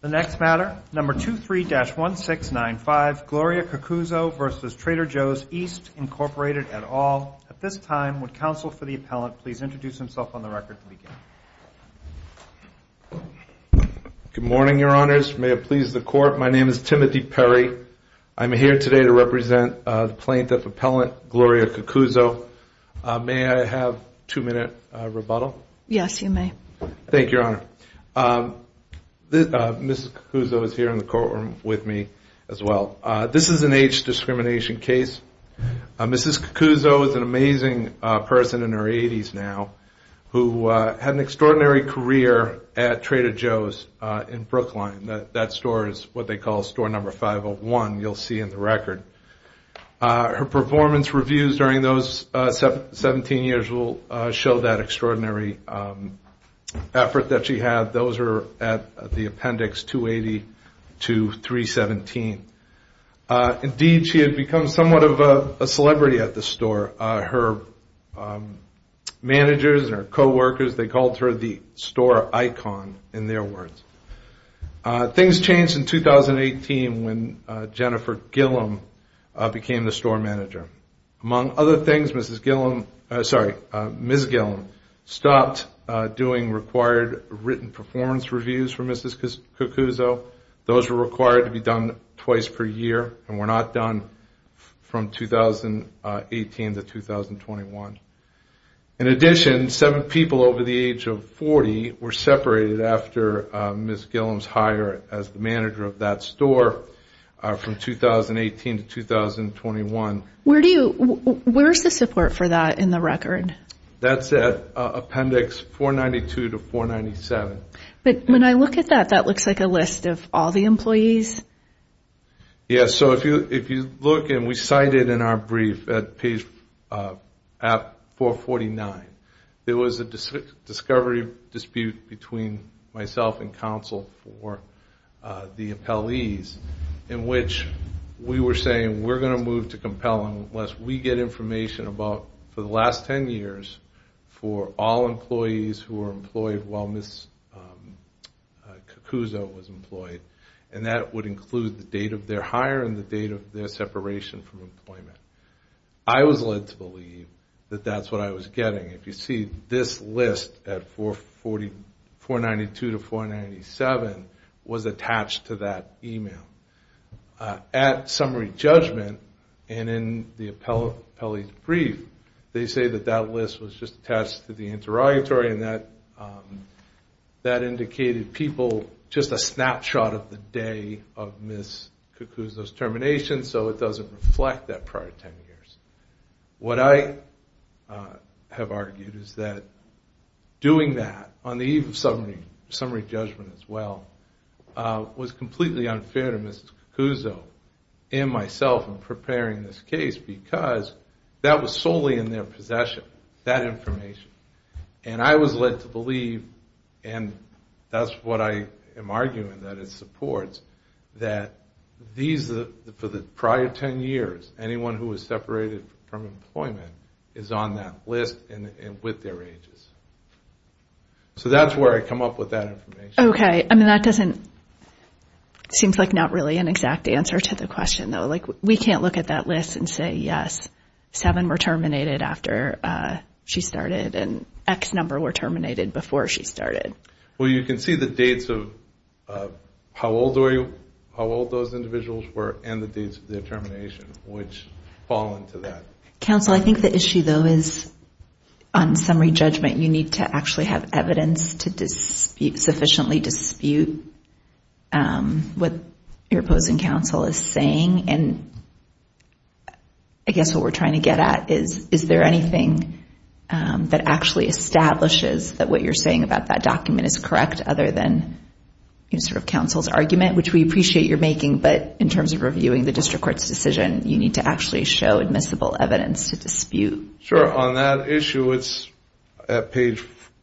The next matter, number 23-1695, Gloria Cucuzzo v. Trader Joe's East, Inc. et al. At this time, would counsel for the appellant please introduce himself on the record. Good morning, Your Honors. May it please the Court, my name is Timothy Perry. I'm here today to represent the plaintiff appellant, Gloria Cucuzzo. May I have a two-minute rebuttal? Yes, you may. Thank you, Your Honor. Mrs. Cucuzzo is here in the courtroom with me as well. This is an age discrimination case. Mrs. Cucuzzo is an amazing person in her 80s now who had an extraordinary career at Trader Joe's in Brookline. That store is what they call store number 501, you'll see in the record. Her performance reviews during those 17 years will show that extraordinary effort that she had. Those are at the appendix 280 to 317. Indeed, she had become somewhat of a celebrity at the store. Her managers and her co-workers, they called her the store icon in their words. Things changed in 2018 when Jennifer Gillum became the store manager. Among other things, Mrs. Gillum, sorry, Ms. Gillum, stopped doing required written performance reviews for Mrs. Cucuzzo. Those were required to be done twice per year and were not done from 2018 to 2021. In addition, seven people over the age of 40 were separated after Ms. Gillum's hire as the manager of that store from 2018 to 2021. Where is the support for that in the record? That's at appendix 492 to 497. But when I look at that, that looks like a list of all the employees. Yes, so if you look, and we cited in our brief at page 449, there was a discovery dispute between myself and counsel for the appellees in which we were saying we're going to move to compelling unless we get information about, for the last 10 years, for all employees who were employed while Ms. Cucuzzo was employed. And that would include the date of their hire and the date of their separation from employment. I was led to believe that that's what I was getting. If you see this list at 492 to 497 was attached to that email. At summary judgment and in the appellee's brief, they say that that list was just attached to the interrogatory and that that indicated people just a snapshot of the day of Ms. Cucuzzo's termination, so it doesn't reflect that prior 10 years. What I have argued is that doing that on the eve of summary judgment as well was completely unfair to Ms. Cucuzzo and myself in preparing this case because that was solely in their possession, that information. And I was led to believe, and that's what I am arguing that it supports, that for the prior 10 years, anyone who was separated from employment is on that list and with their ages. So that's where I come up with that information. Okay. I mean, that doesn't seem like not really an exact answer to the question, though. Like, we can't look at that list and say, yes, seven were terminated after she started and X number were terminated before she started. Well, you can see the dates of how old those individuals were and the dates of their termination, which fall into that. Counsel, I think the issue, though, is on summary judgment, you need to actually have evidence to sufficiently dispute what your opposing counsel is saying. And I guess what we're trying to get at is, is there anything that actually establishes that what you're saying about that document is correct other than counsel's argument, which we appreciate your making, but in terms of reviewing the district court's decision, you need to actually show admissible evidence to dispute. Sure. On that issue, it's at page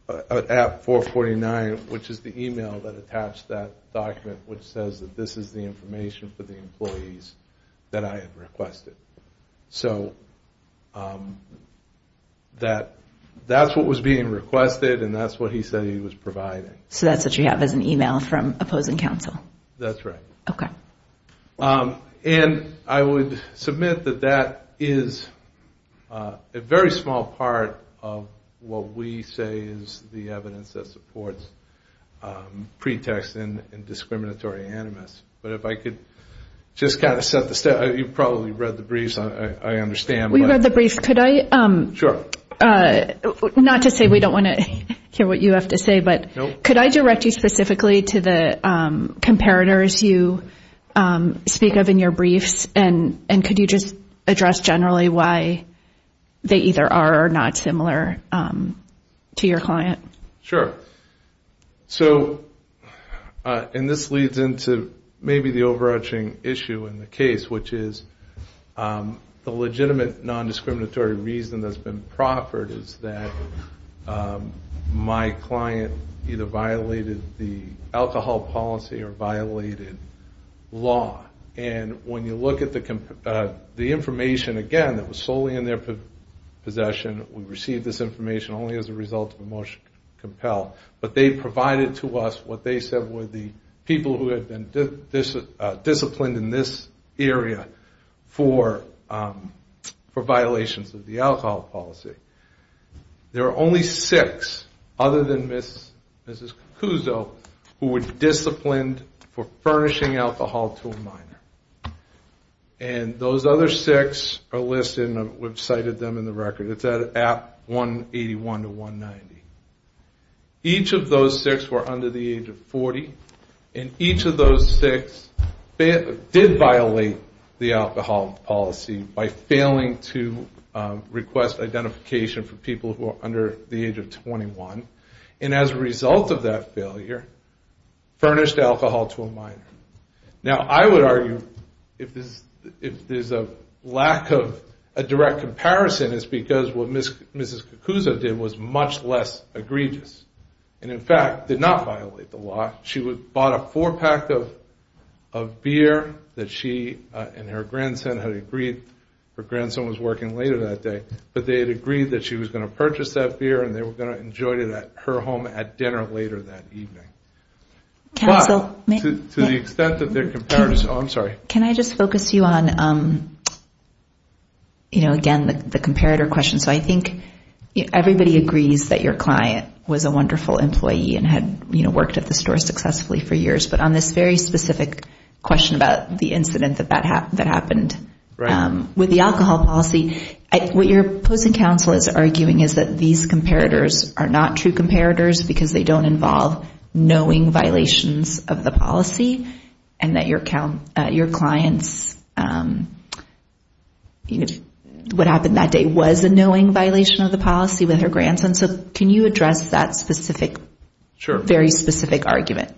449, which is the email that attached that document, which says that this is the information for the employees that I had requested. So that's what was being requested and that's what he said he was providing. So that's what you have as an email from opposing counsel? That's right. Okay. And I would submit that that is a very small part of what we say is the evidence that supports pretext in discriminatory animus. But if I could just kind of set the stage. You probably read the briefs, I understand. We read the briefs. Could I? Sure. Not to say we don't want to hear what you have to say, but could I direct you specifically to the comparators you speak of in your briefs, and could you just address generally why they either are or not similar to your client? Sure. So, and this leads into maybe the overarching issue in the case, which is the legitimate nondiscriminatory reason that's been proffered is that my client either violated the alcohol policy or violated law. And when you look at the information, again, that was solely in their possession, we received this information only as a result of a motion to compel. But they provided to us what they said were the people who had been disciplined in this area for violations of the alcohol policy. There are only six, other than Mrs. Cacuso, who were disciplined for furnishing alcohol to a minor. And those other six are listed and we've cited them in the record. It's at 181 to 190. Each of those six were under the age of 40, and each of those six did violate the alcohol policy by failing to request identification for people who are under the age of 21. And as a result of that failure, furnished alcohol to a minor. Now, I would argue if there's a lack of a direct comparison, it's because what Mrs. Cacuso did was much less egregious. And, in fact, did not violate the law. She bought a four-pack of beer that she and her grandson had agreed. Her grandson was working later that day. But they had agreed that she was going to purchase that beer and they were going to enjoy it at her home at dinner later that evening. But to the extent that their comparison... Oh, I'm sorry. Can I just focus you on, you know, again, the comparator question? So I think everybody agrees that your client was a wonderful employee and had, you know, worked at the store successfully for years. But on this very specific question about the incident that happened, with the alcohol policy, what your opposing counsel is arguing is that these comparators are not true comparators because they don't involve knowing violations of the policy and that your client's, you know, what happened that day was a knowing violation of the policy with her grandson. So can you address that specific, very specific argument?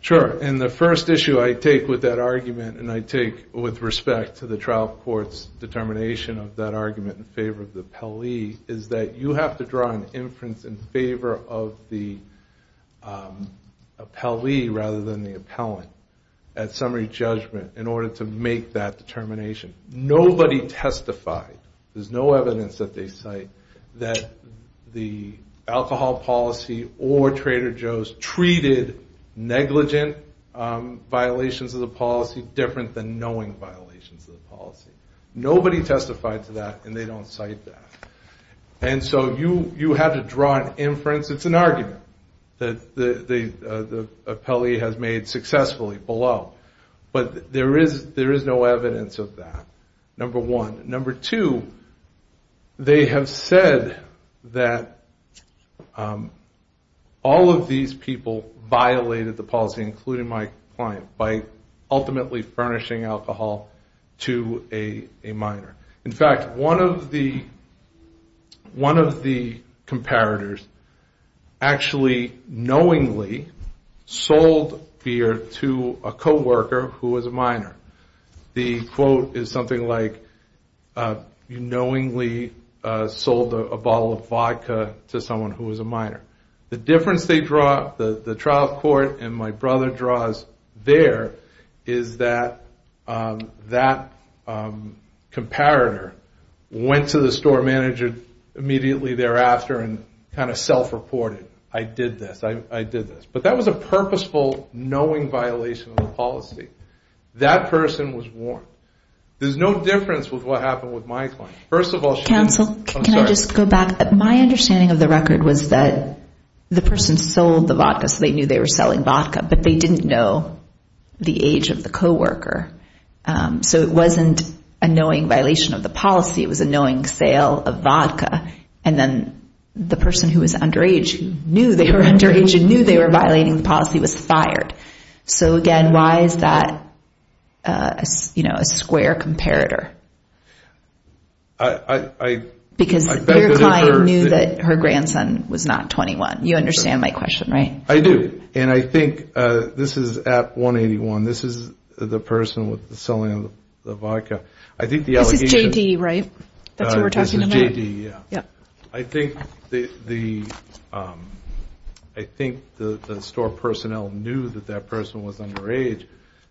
Sure. And the first issue I take with that argument, and I take with respect to the trial court's determination of that argument in favor of the appellee, is that you have to draw an inference in favor of the appellee rather than the appellant at summary judgment in order to make that determination. Nobody testified. There's no evidence that they cite that the alcohol policy or Trader Joe's treated negligent violations of the policy different than knowing violations of the policy. Nobody testified to that, and they don't cite that. And so you have to draw an inference. It's an argument that the appellee has made successfully below, but there is no evidence of that, number one. Number two, they have said that all of these people violated the policy, including my client, by ultimately furnishing alcohol to a minor. In fact, one of the comparators actually knowingly sold beer to a co-worker who was a minor. The quote is something like, you knowingly sold a bottle of vodka to someone who was a minor. The difference they draw, the trial court and my brother draws there, is that that comparator went to the store manager immediately thereafter and kind of self-reported, I did this, I did this. But that was a purposeful knowing violation of the policy. That person was warned. There's no difference with what happened with my client. First of all, she was – Counsel, can I just go back? My understanding of the record was that the person sold the vodka, so they knew they were selling vodka, but they didn't know the age of the co-worker. So it wasn't a knowing violation of the policy. It was a knowing sale of vodka, and then the person who was underage who knew they were underage and knew they were violating the policy was fired. So, again, why is that a square comparator? Because your client knew that her grandson was not 21. You understand my question, right? I do, and I think this is at 181. This is the person selling the vodka. This is JD, right? That's who we're talking about? This is JD, yeah. I think the store personnel knew that that person was underage.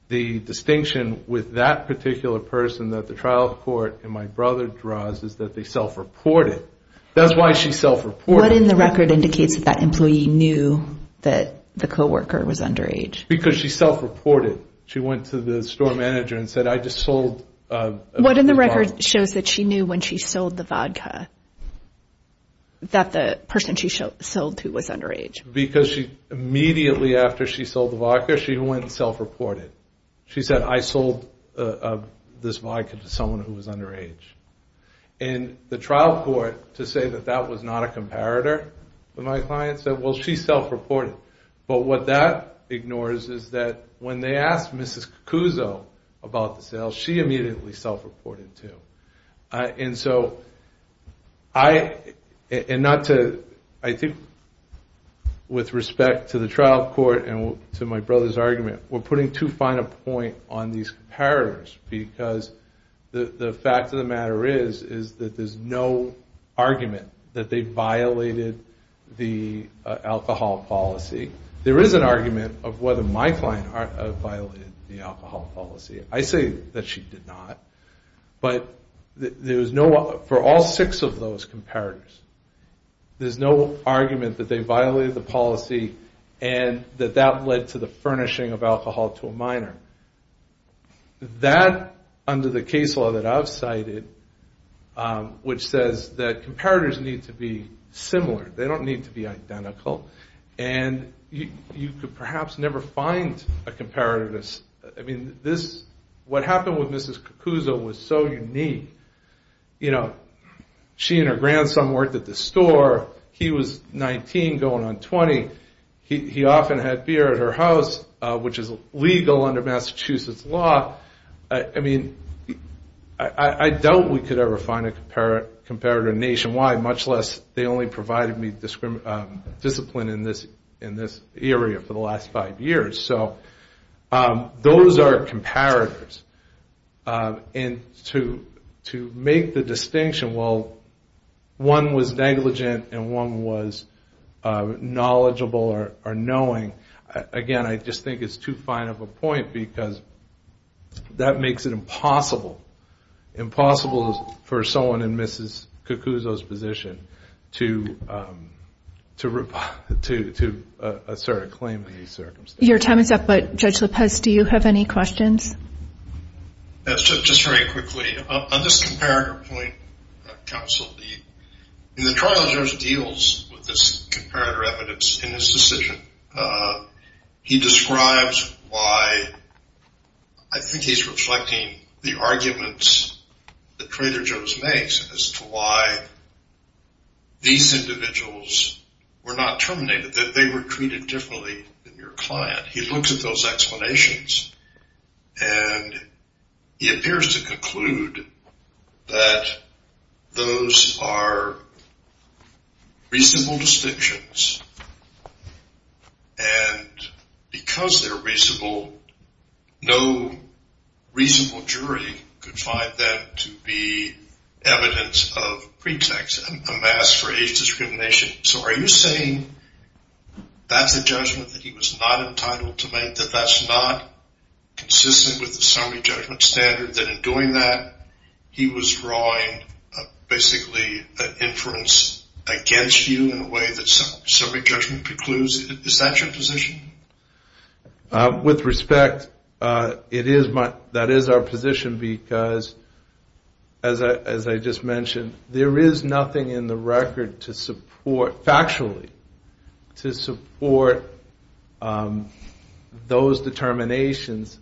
The distinction with that particular person that the trial court and my brother draws is that they self-reported. That's why she self-reported. What in the record indicates that that employee knew that the co-worker was underage? Because she self-reported. She went to the store manager and said, I just sold the vodka. What in the record shows that she knew when she sold the vodka that the person she sold to was underage? Because immediately after she sold the vodka, she went and self-reported. She said, I sold this vodka to someone who was underage. And the trial court, to say that that was not a comparator with my client, said, well, she self-reported. But what that ignores is that when they asked Mrs. Cucuzzo about the sale, she immediately self-reported too. And so I think with respect to the trial court and to my brother's argument, we're putting too fine a point on these comparators because the fact of the matter is that there's no argument that they violated the alcohol policy. There is an argument of whether my client violated the alcohol policy. I say that she did not. But for all six of those comparators, there's no argument that they violated the policy That, under the case law that I've cited, which says that comparators need to be similar. They don't need to be identical. And you could perhaps never find a comparator. I mean, what happened with Mrs. Cucuzzo was so unique. She and her grandson worked at the store. He was 19 going on 20. He often had beer at her house, which is legal under Massachusetts law. I mean, I doubt we could ever find a comparator nationwide, much less they only provided me discipline in this area for the last five years. So those are comparators. And to make the distinction, well, one was negligent and one was knowledgeable or knowing. Again, I just think it's too fine of a point because that makes it impossible for someone in Mrs. Cucuzzo's position to assert a claim in these circumstances. Your time is up, but Judge Lopez, do you have any questions? In the trial, Joe deals with this comparator evidence in his decision. He describes why I think he's reflecting the arguments that Trader Joe's makes as to why these individuals were not terminated, that they were treated differently than your client. He looks at those explanations, and he appears to conclude that those are reasonable distinctions, and because they're reasonable, no reasonable jury could find that to be evidence of pretext, a mask for age discrimination. So are you saying that's a judgment that he was not entitled to make, and that that's not consistent with the summary judgment standard, that in doing that he was drawing basically an inference against you in a way that summary judgment precludes? Is that your position? With respect, that is our position because, as I just mentioned, there is nothing in the record to support, factually, to support those determinations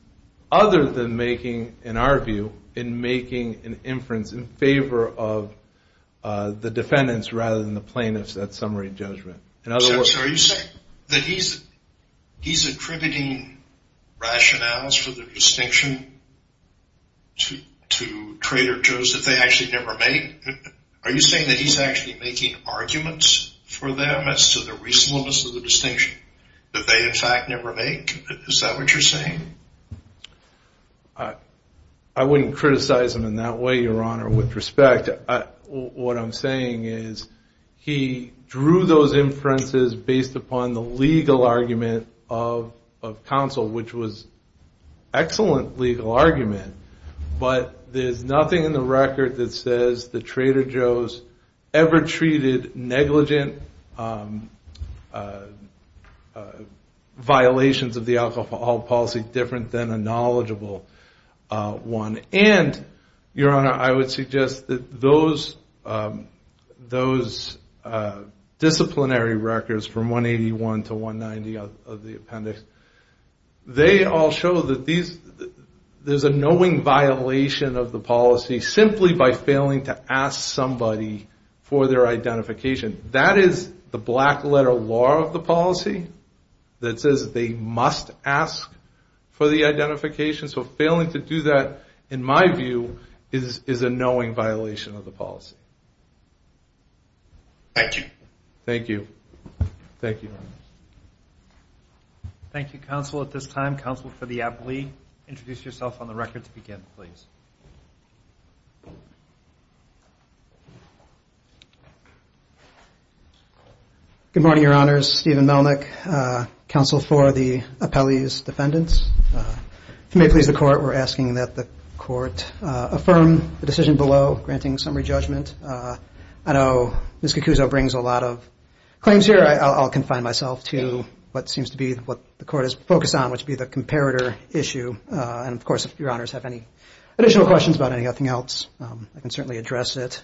other than making, in our view, in making an inference in favor of the defendants rather than the plaintiffs at summary judgment. So are you saying that he's attributing rationales for the distinction to Trader Joe's that they actually never make? Are you saying that he's actually making arguments for them as to the reasonableness of the distinction that they, in fact, never make? Is that what you're saying? I wouldn't criticize him in that way, Your Honor. With respect, what I'm saying is he drew those inferences based upon the legal argument of counsel, which was excellent legal argument, but there's nothing in the record that says the Trader Joe's ever treated negligent violations of the alcohol policy different than a knowledgeable one. And, Your Honor, I would suggest that those disciplinary records from 181 to 190 of the appendix, they all show that there's a knowing violation of the policy simply by failing to ask somebody for their identification. That is the black-letter law of the policy that says they must ask for the identification. So failing to do that, in my view, is a knowing violation of the policy. Thank you. Thank you. Thank you, Your Honor. Thank you, counsel, at this time. Counsel for the appellee, introduce yourself on the record to begin, please. Good morning, Your Honors. Steven Melnick, counsel for the appellee's defendants. Affirm the decision below, granting summary judgment. I know Ms. Cacuso brings a lot of claims here. I'll confine myself to what seems to be what the Court is focused on, which would be the comparator issue. And, of course, if Your Honors have any additional questions about anything else, I can certainly address it.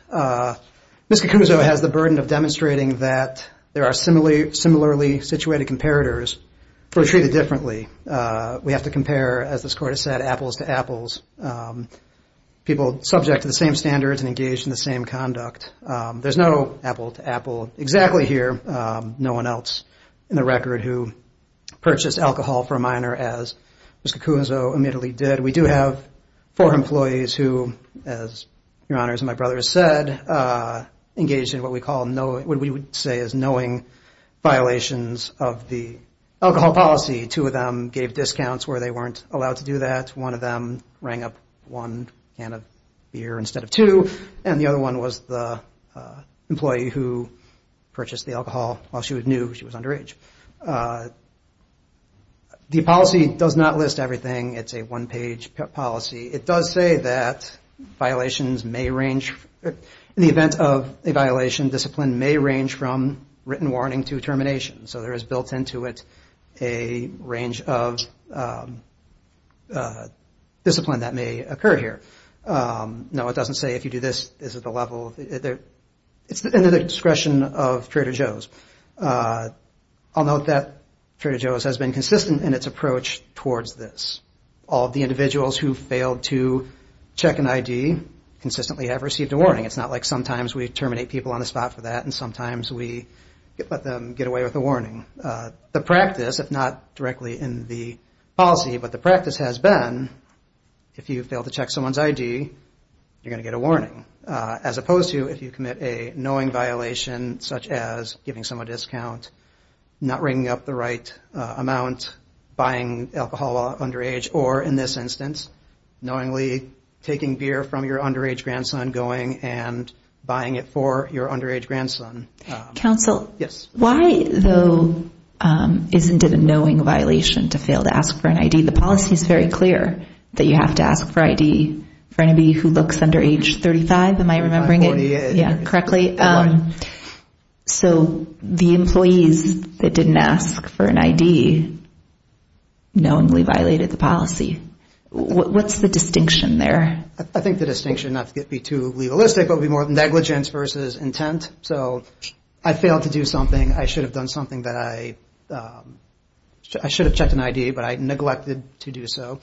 Ms. Cacuso has the burden of demonstrating that there are similarly situated comparators who are treated differently. We have to compare, as this Court has said, apples to apples. People subject to the same standards and engaged in the same conduct. There's no apple to apple exactly here. No one else in the record who purchased alcohol for a minor, as Ms. Cacuso admittedly did. We do have four employees who, as Your Honors and my brother have said, engaged in what we would say is knowing violations of the alcohol policy. Two of them gave discounts where they weren't allowed to do that. One of them rang up one can of beer instead of two. And the other one was the employee who purchased the alcohol while she knew she was underage. The policy does not list everything. It's a one-page policy. It does say that violations may range. In the event of a violation, discipline may range from written warning to termination. So there is built into it a range of discipline that may occur here. No, it doesn't say if you do this, this is the level. It's in the discretion of Trader Joe's. I'll note that Trader Joe's has been consistent in its approach towards this. All of the individuals who failed to check an ID consistently have received a warning. It's not like sometimes we terminate people on the spot for that and sometimes we let them get away with a warning. The practice, if not directly in the policy, but the practice has been if you fail to check someone's ID, you're going to get a warning, as opposed to if you commit a knowing violation such as giving someone a discount, not ringing up the right amount, buying alcohol while underage, or in this instance, knowingly taking beer from your underage grandson, going and buying it for your underage grandson. Counsel? Yes. Why, though, isn't it a knowing violation to fail to ask for an ID? The policy is very clear that you have to ask for ID for anybody who looks under age 35. Am I remembering it correctly? So the employees that didn't ask for an ID knowingly violated the policy. What's the distinction there? I think the distinction, not to be too legalistic, but it would be more negligence versus intent. So I failed to do something. I should have done something that I should have checked an ID, but I neglected to do so,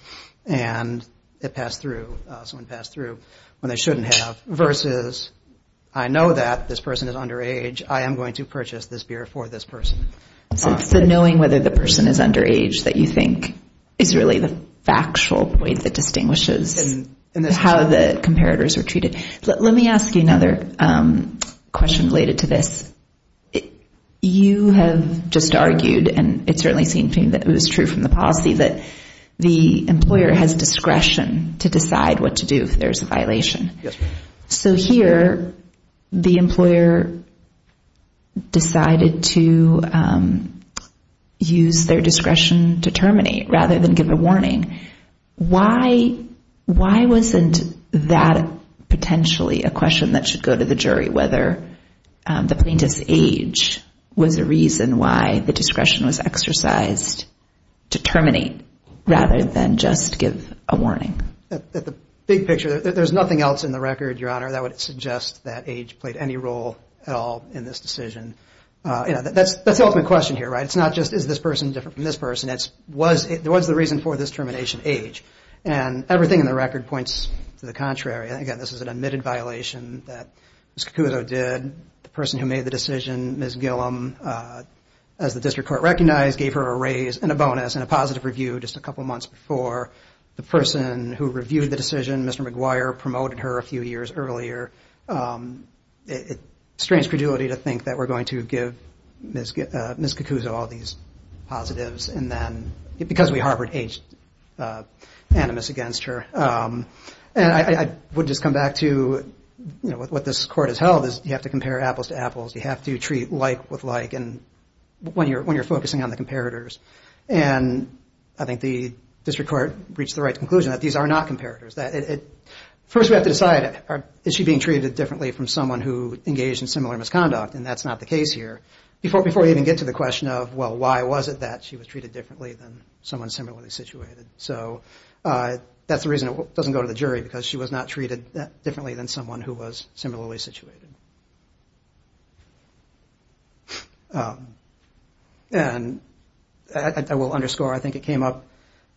and it passed through, so it passed through when they shouldn't have, versus I know that this person is underage. I am going to purchase this beer for this person. So it's the knowing whether the person is underage that you think is really the factual way that distinguishes how the comparators are treated. Let me ask you another question related to this. You have just argued, and it certainly seems to me that it was true from the policy, that the employer has discretion to decide what to do if there's a violation. So here the employer decided to use their discretion to terminate rather than give a warning. Why wasn't that potentially a question that should go to the jury, whether the plaintiff's age was a reason why the discretion was exercised to terminate rather than just give a warning? At the big picture, there's nothing else in the record, Your Honor, that would suggest that age played any role at all in this decision. That's the ultimate question here, right? It's not just is this person different from this person. It's was the reason for this termination age, and everything in the record points to the contrary. Again, this is an admitted violation that Ms. Cacuto did. The person who made the decision, Ms. Gillum, as the district court recognized, gave her a raise and a bonus and a positive review just a couple months before. The person who reviewed the decision, Mr. McGuire, promoted her a few years earlier. It strains credulity to think that we're going to give Ms. Cacuto all these positives because we harbored animus against her. And I would just come back to what this court has held, is you have to compare apples to apples. You have to treat like with like when you're focusing on the comparators. And I think the district court reached the right conclusion that these are not comparators. First we have to decide, is she being treated differently from someone who engaged in similar misconduct? And that's not the case here. Before we even get to the question of, well, why was it that she was treated differently than someone similarly situated? So that's the reason it doesn't go to the jury, because she was not treated differently than someone who was similarly situated. And I will underscore, I think it came up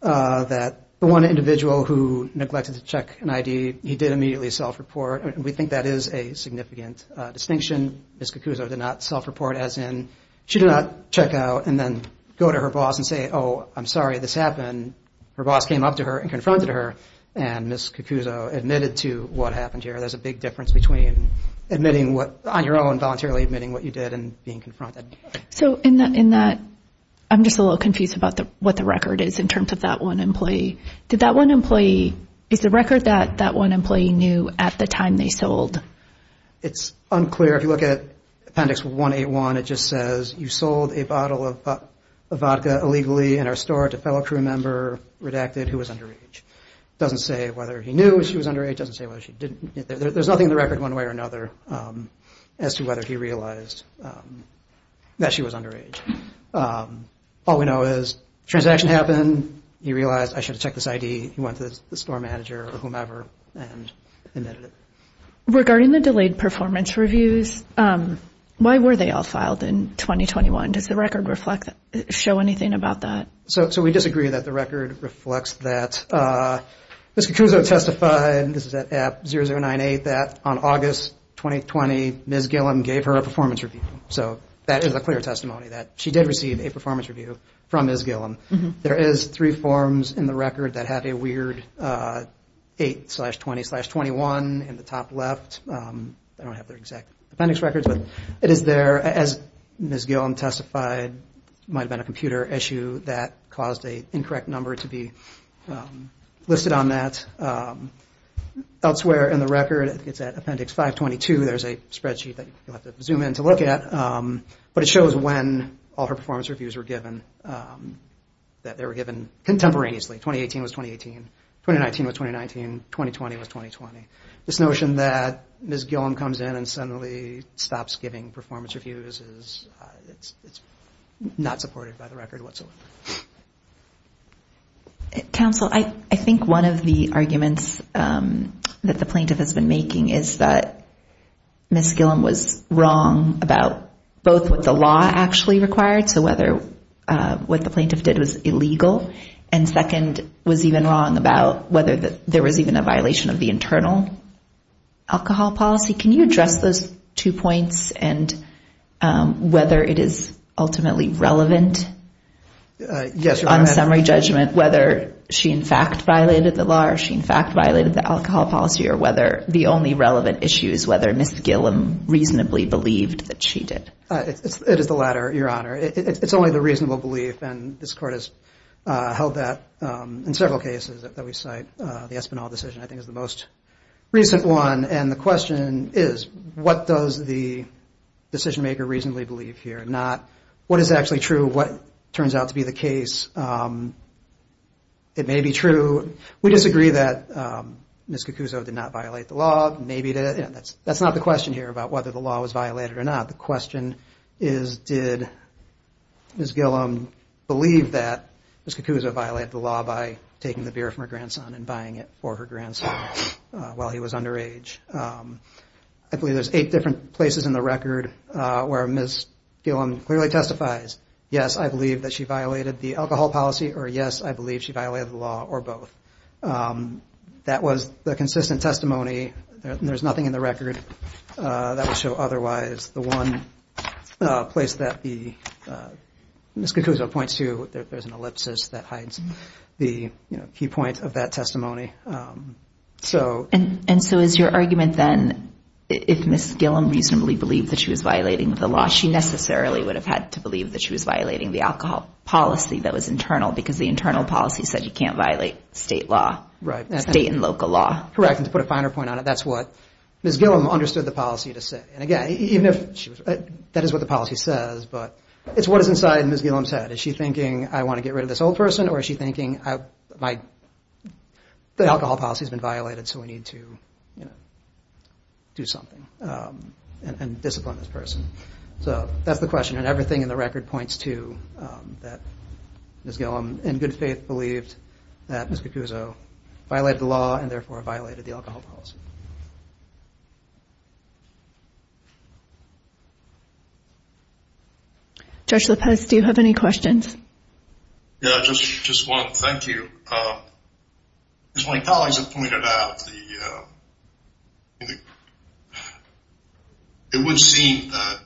that the one individual who neglected to check an ID, he did immediately self-report. We think that is a significant distinction. Ms. Cacuto did not self-report as in she did not check out and then go to her boss and say, oh, I'm sorry this happened. Her boss came up to her and confronted her, and Ms. Cacuto admitted to what happened here. There's a big difference between admitting what, on your own, voluntarily admitting what you did and being confronted. So in that, I'm just a little confused about what the record is in terms of that one employee. Did that one employee, is the record that that one employee knew at the time they sold? It's unclear. If you look at Appendix 181, it just says you sold a bottle of vodka illegally in our store to a fellow crew member redacted who was underage. It doesn't say whether he knew she was underage, it doesn't say whether she didn't. There's nothing in the record one way or another as to whether he realized that she was underage. All we know is transaction happened, he realized I should have checked this ID, he went to the store manager or whomever and admitted it. Regarding the delayed performance reviews, why were they all filed in 2021? Does the record show anything about that? So we disagree that the record reflects that. Ms. Cacuso testified, this is at App 0098, that on August 2020, Ms. Gillum gave her a performance review. So that is a clear testimony that she did receive a performance review from Ms. Gillum. There is three forms in the record that have a weird 8-20-21 in the top left. They don't have their exact appendix records, but it is there, as Ms. Gillum testified, it might have been a computer issue that caused an incorrect number to be listed on that. Elsewhere in the record, it's at appendix 522, there's a spreadsheet that you'll have to zoom in to look at, but it shows when all her performance reviews were given, that they were given contemporaneously. 2018 was 2018, 2019 was 2019, 2020 was 2020. This notion that Ms. Gillum comes in and suddenly stops giving performance reviews, it's not supported by the record whatsoever. Counsel, I think one of the arguments that the plaintiff has been making is that Ms. Gillum was wrong about both what the law actually required, so whether what the plaintiff did was illegal, and second, was even wrong about whether there was even a violation of the internal alcohol policy. Can you address those two points, and whether it is ultimately relevant? Yes, Your Honor. On summary judgment, whether she in fact violated the law, or she in fact violated the alcohol policy, or whether the only relevant issue is whether Ms. Gillum reasonably believed that she did. It is the latter, Your Honor. It's only the reasonable belief, and this Court has held that in several cases that we cite. The Espinal decision, I think, is the most recent one, and the question is, what does the decision maker reasonably believe here? Not what is actually true, what turns out to be the case. It may be true, we disagree that Ms. Cacuso did not violate the law. That's not the question here about whether the law was violated or not. The question is, did Ms. Gillum believe that Ms. Cacuso violated the law by taking the beer from her grandson and buying it for her grandson while he was underage? I believe there's eight different places in the record where Ms. Gillum clearly testifies. Yes, I believe that she violated the alcohol policy, or yes, I believe she violated the law, or both. That was the consistent testimony. There's nothing in the record that would show otherwise. The one place that Ms. Cacuso points to, there's an ellipsis that hides the key point of that testimony. And so is your argument then, if Ms. Gillum reasonably believed that she was violating the law, she necessarily would have had to believe that she was violating the alcohol policy that was internal, because the internal policy said you can't violate state law, state and local law. Correct, and to put a finer point on it, that's what Ms. Gillum understood the policy to say. And again, that is what the policy says, but it's what is inside Ms. Gillum's head. Is she thinking, I want to get rid of this old person, or is she thinking the alcohol policy has been violated, so we need to do something and discipline this person. So that's the question, and everything in the record points to that Ms. Gillum, in good faith, believed that Ms. Cacuso violated the law and therefore violated the alcohol policy. Judge Lopez, do you have any questions? Yeah, just one. Thank you. As my colleagues have pointed out, it would seem that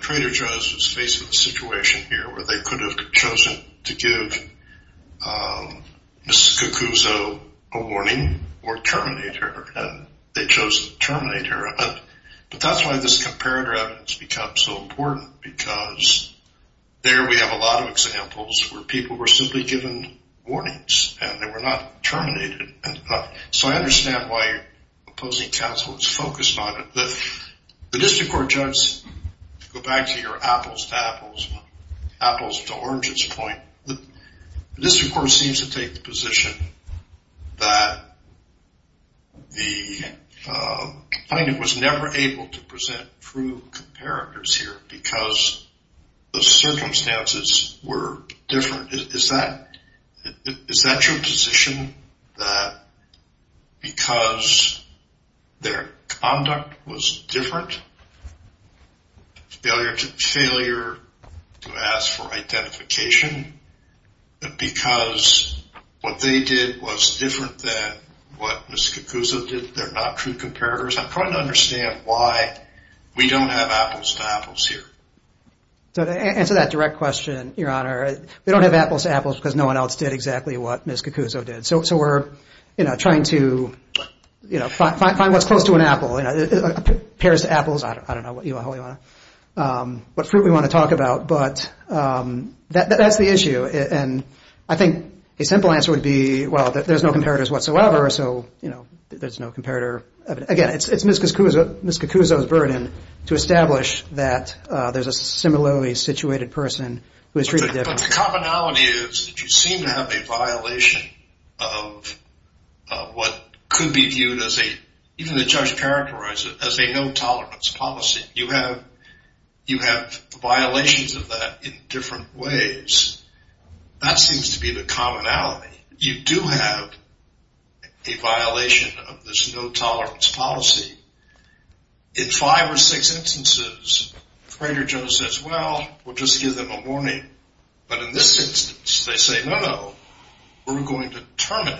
Trader Joe's was faced with a situation here where they could have chosen to give Ms. Cacuso a warning or terminate her, and they chose to terminate her. But that's why this comparator evidence becomes so important, because there we have a lot of examples where people were simply given warnings, and they were not terminated. So I understand why opposing counsel is focused on it. The district court judge, to go back to your apples to apples, apples to oranges point, the district court seems to take the position that the defendant was never able to present true comparators here because the circumstances were different. Is that your position, that because their conduct was different, failure to ask for identification, because what they did was different than what Ms. Cacuso did, they're not true comparators? I'm trying to understand why we don't have apples to apples here. To answer that direct question, Your Honor, we don't have apples to apples because no one else did exactly what Ms. Cacuso did. So we're trying to find what's close to an apple. Pears to apples, I don't know what fruit we want to talk about, but that's the issue. And I think a simple answer would be, well, there's no comparators whatsoever, so there's no comparator evidence. Again, it's Ms. Cacuso's burden to establish that there's a similarly situated person who is treated differently. But the commonality is that you seem to have a violation of what could be viewed as a, even the judge characterized it, as a no tolerance policy. You have violations of that in different ways. That seems to be the commonality. You do have a violation of this no tolerance policy. In five or six instances, Frater Joe says, well, we'll just give them a warning. But in this instance, they say, no, no, we're going to terminate.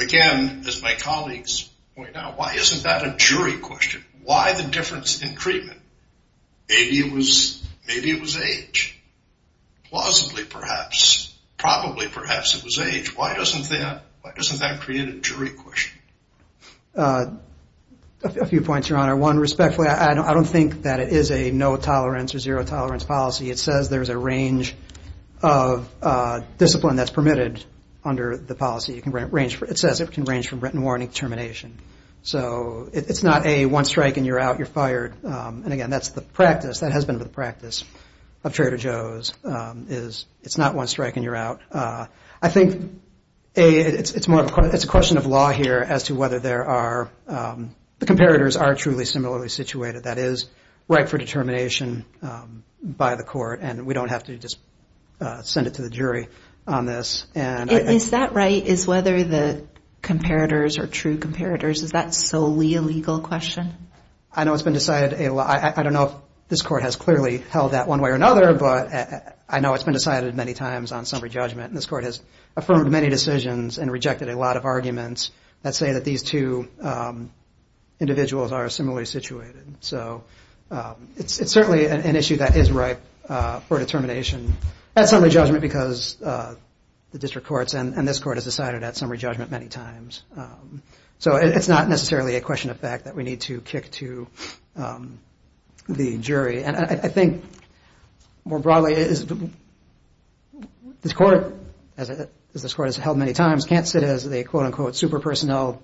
Again, as my colleagues point out, why isn't that a jury question? Why the difference in treatment? Maybe it was age. Plausibly, perhaps. Probably, perhaps it was age. Why doesn't that create a jury question? A few points, Your Honor. One, respectfully, I don't think that it is a no tolerance or zero tolerance policy. It says there's a range of discipline that's permitted under the policy. It says it can range from written warning to termination. So it's not a one strike and you're out, you're fired. And again, that's the practice. The practice of Frater Joe's is it's not one strike and you're out. I think it's a question of law here as to whether there are, the comparators are truly similarly situated. That is right for determination by the court. And we don't have to just send it to the jury on this. Is that right? Is whether the comparators are true comparators, is that solely a legal question? I know it's been decided. I don't know if this court has clearly held that one way or another, but I know it's been decided many times on summary judgment. And this court has affirmed many decisions and rejected a lot of arguments that say that these two individuals are similarly situated. So it's certainly an issue that is ripe for determination at summary judgment because the district courts and this court has decided at summary judgment many times. So it's not necessarily a question of fact that we need to kick to the jury. And I think more broadly, this court, as this court has held many times, can't sit as a quote-unquote super personnel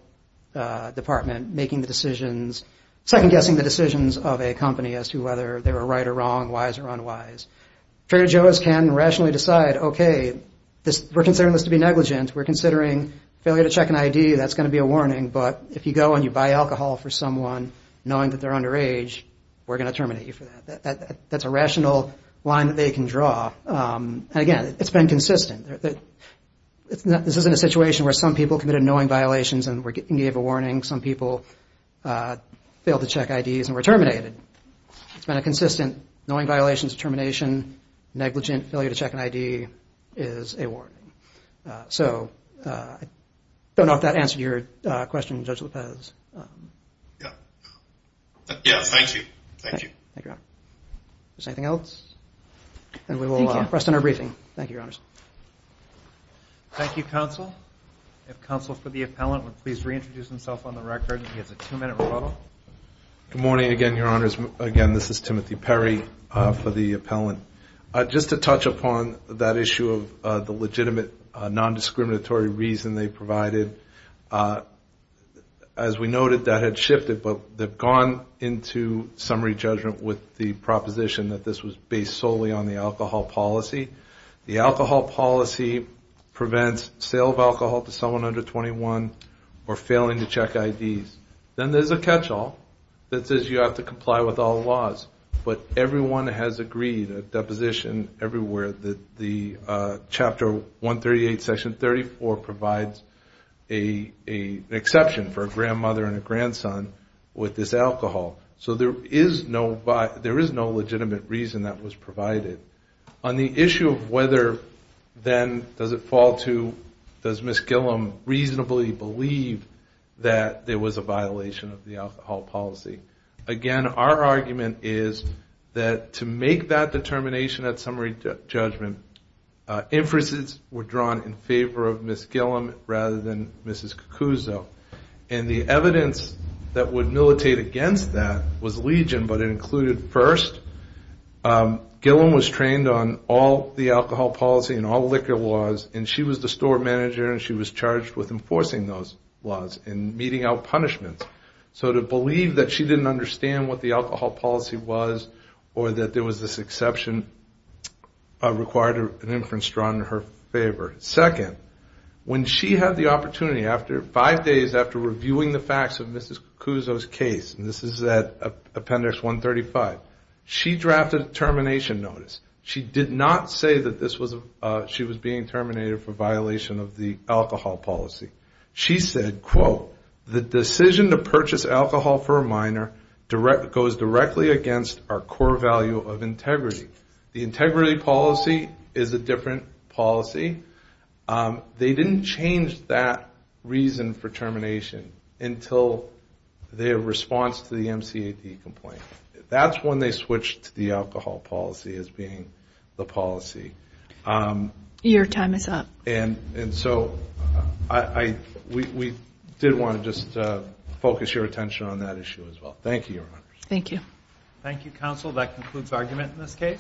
department making the decisions, second-guessing the decisions of a company as to whether they were right or wrong, wise or unwise. Frater Joe's can rationally decide, okay, we're considering this to be negligent. We're considering failure to check an ID. That's going to be a warning. But if you go and you buy alcohol for someone knowing that they're underage, we're going to terminate you for that. That's a rational line that they can draw. And again, it's been consistent. This isn't a situation where some people committed annoying violations and gave a warning. Some people failed to check IDs and were terminated. It's been a consistent knowing violations of termination, negligent failure to check an ID is a warning. So I don't know if that answered your question, Judge Lopez. Yeah. Yeah, thank you. Thank you. Thank you, Your Honor. Is there anything else? And we will rest in our briefing. Thank you, Your Honors. Thank you, Counsel. If Counsel for the Appellant would please reintroduce himself on the record. He has a two-minute rebuttal. Good morning again, Your Honors. Again, this is Timothy Perry for the Appellant. Just to touch upon that issue of the legitimate nondiscriminatory reason they provided. As we noted, that had shifted, but they've gone into summary judgment with the proposition that this was based solely on the alcohol policy. The alcohol policy prevents sale of alcohol to someone under 21 or failing to check IDs. Then there's a catch-all that says you have to comply with all laws. But everyone has agreed, and there's a position everywhere, that Chapter 138, Section 34 provides an exception for a grandmother and a grandson with this alcohol. So there is no legitimate reason that was provided. On the issue of whether then does it fall to, does Ms. Gillum reasonably believe that there was a violation of the alcohol policy, again, our argument is that to make that determination at summary judgment, inferences were drawn in favor of Ms. Gillum rather than Mrs. Cucuzzo. And the evidence that would militate against that was Legion, but it included first, Gillum was trained on all the alcohol policy and all liquor laws, and she was the store manager, and she was charged with enforcing those laws and meeting out punishments. So to believe that she didn't understand what the alcohol policy was or that there was this exception required an inference drawn in her favor. Second, when she had the opportunity, five days after reviewing the facts of Mrs. Cucuzzo's case, and this is at Appendix 135, she drafted a termination notice. She did not say that she was being terminated for violation of the alcohol policy. She said, quote, the decision to purchase alcohol for a minor goes directly against our core value of integrity. The integrity policy is a different policy. They didn't change that reason for termination until their response to the MCAD complaint. That's when they switched to the alcohol policy as being the policy. Your time is up. on that issue as well. Thank you, Your Honor. Thank you, Counsel. That concludes argument in this case.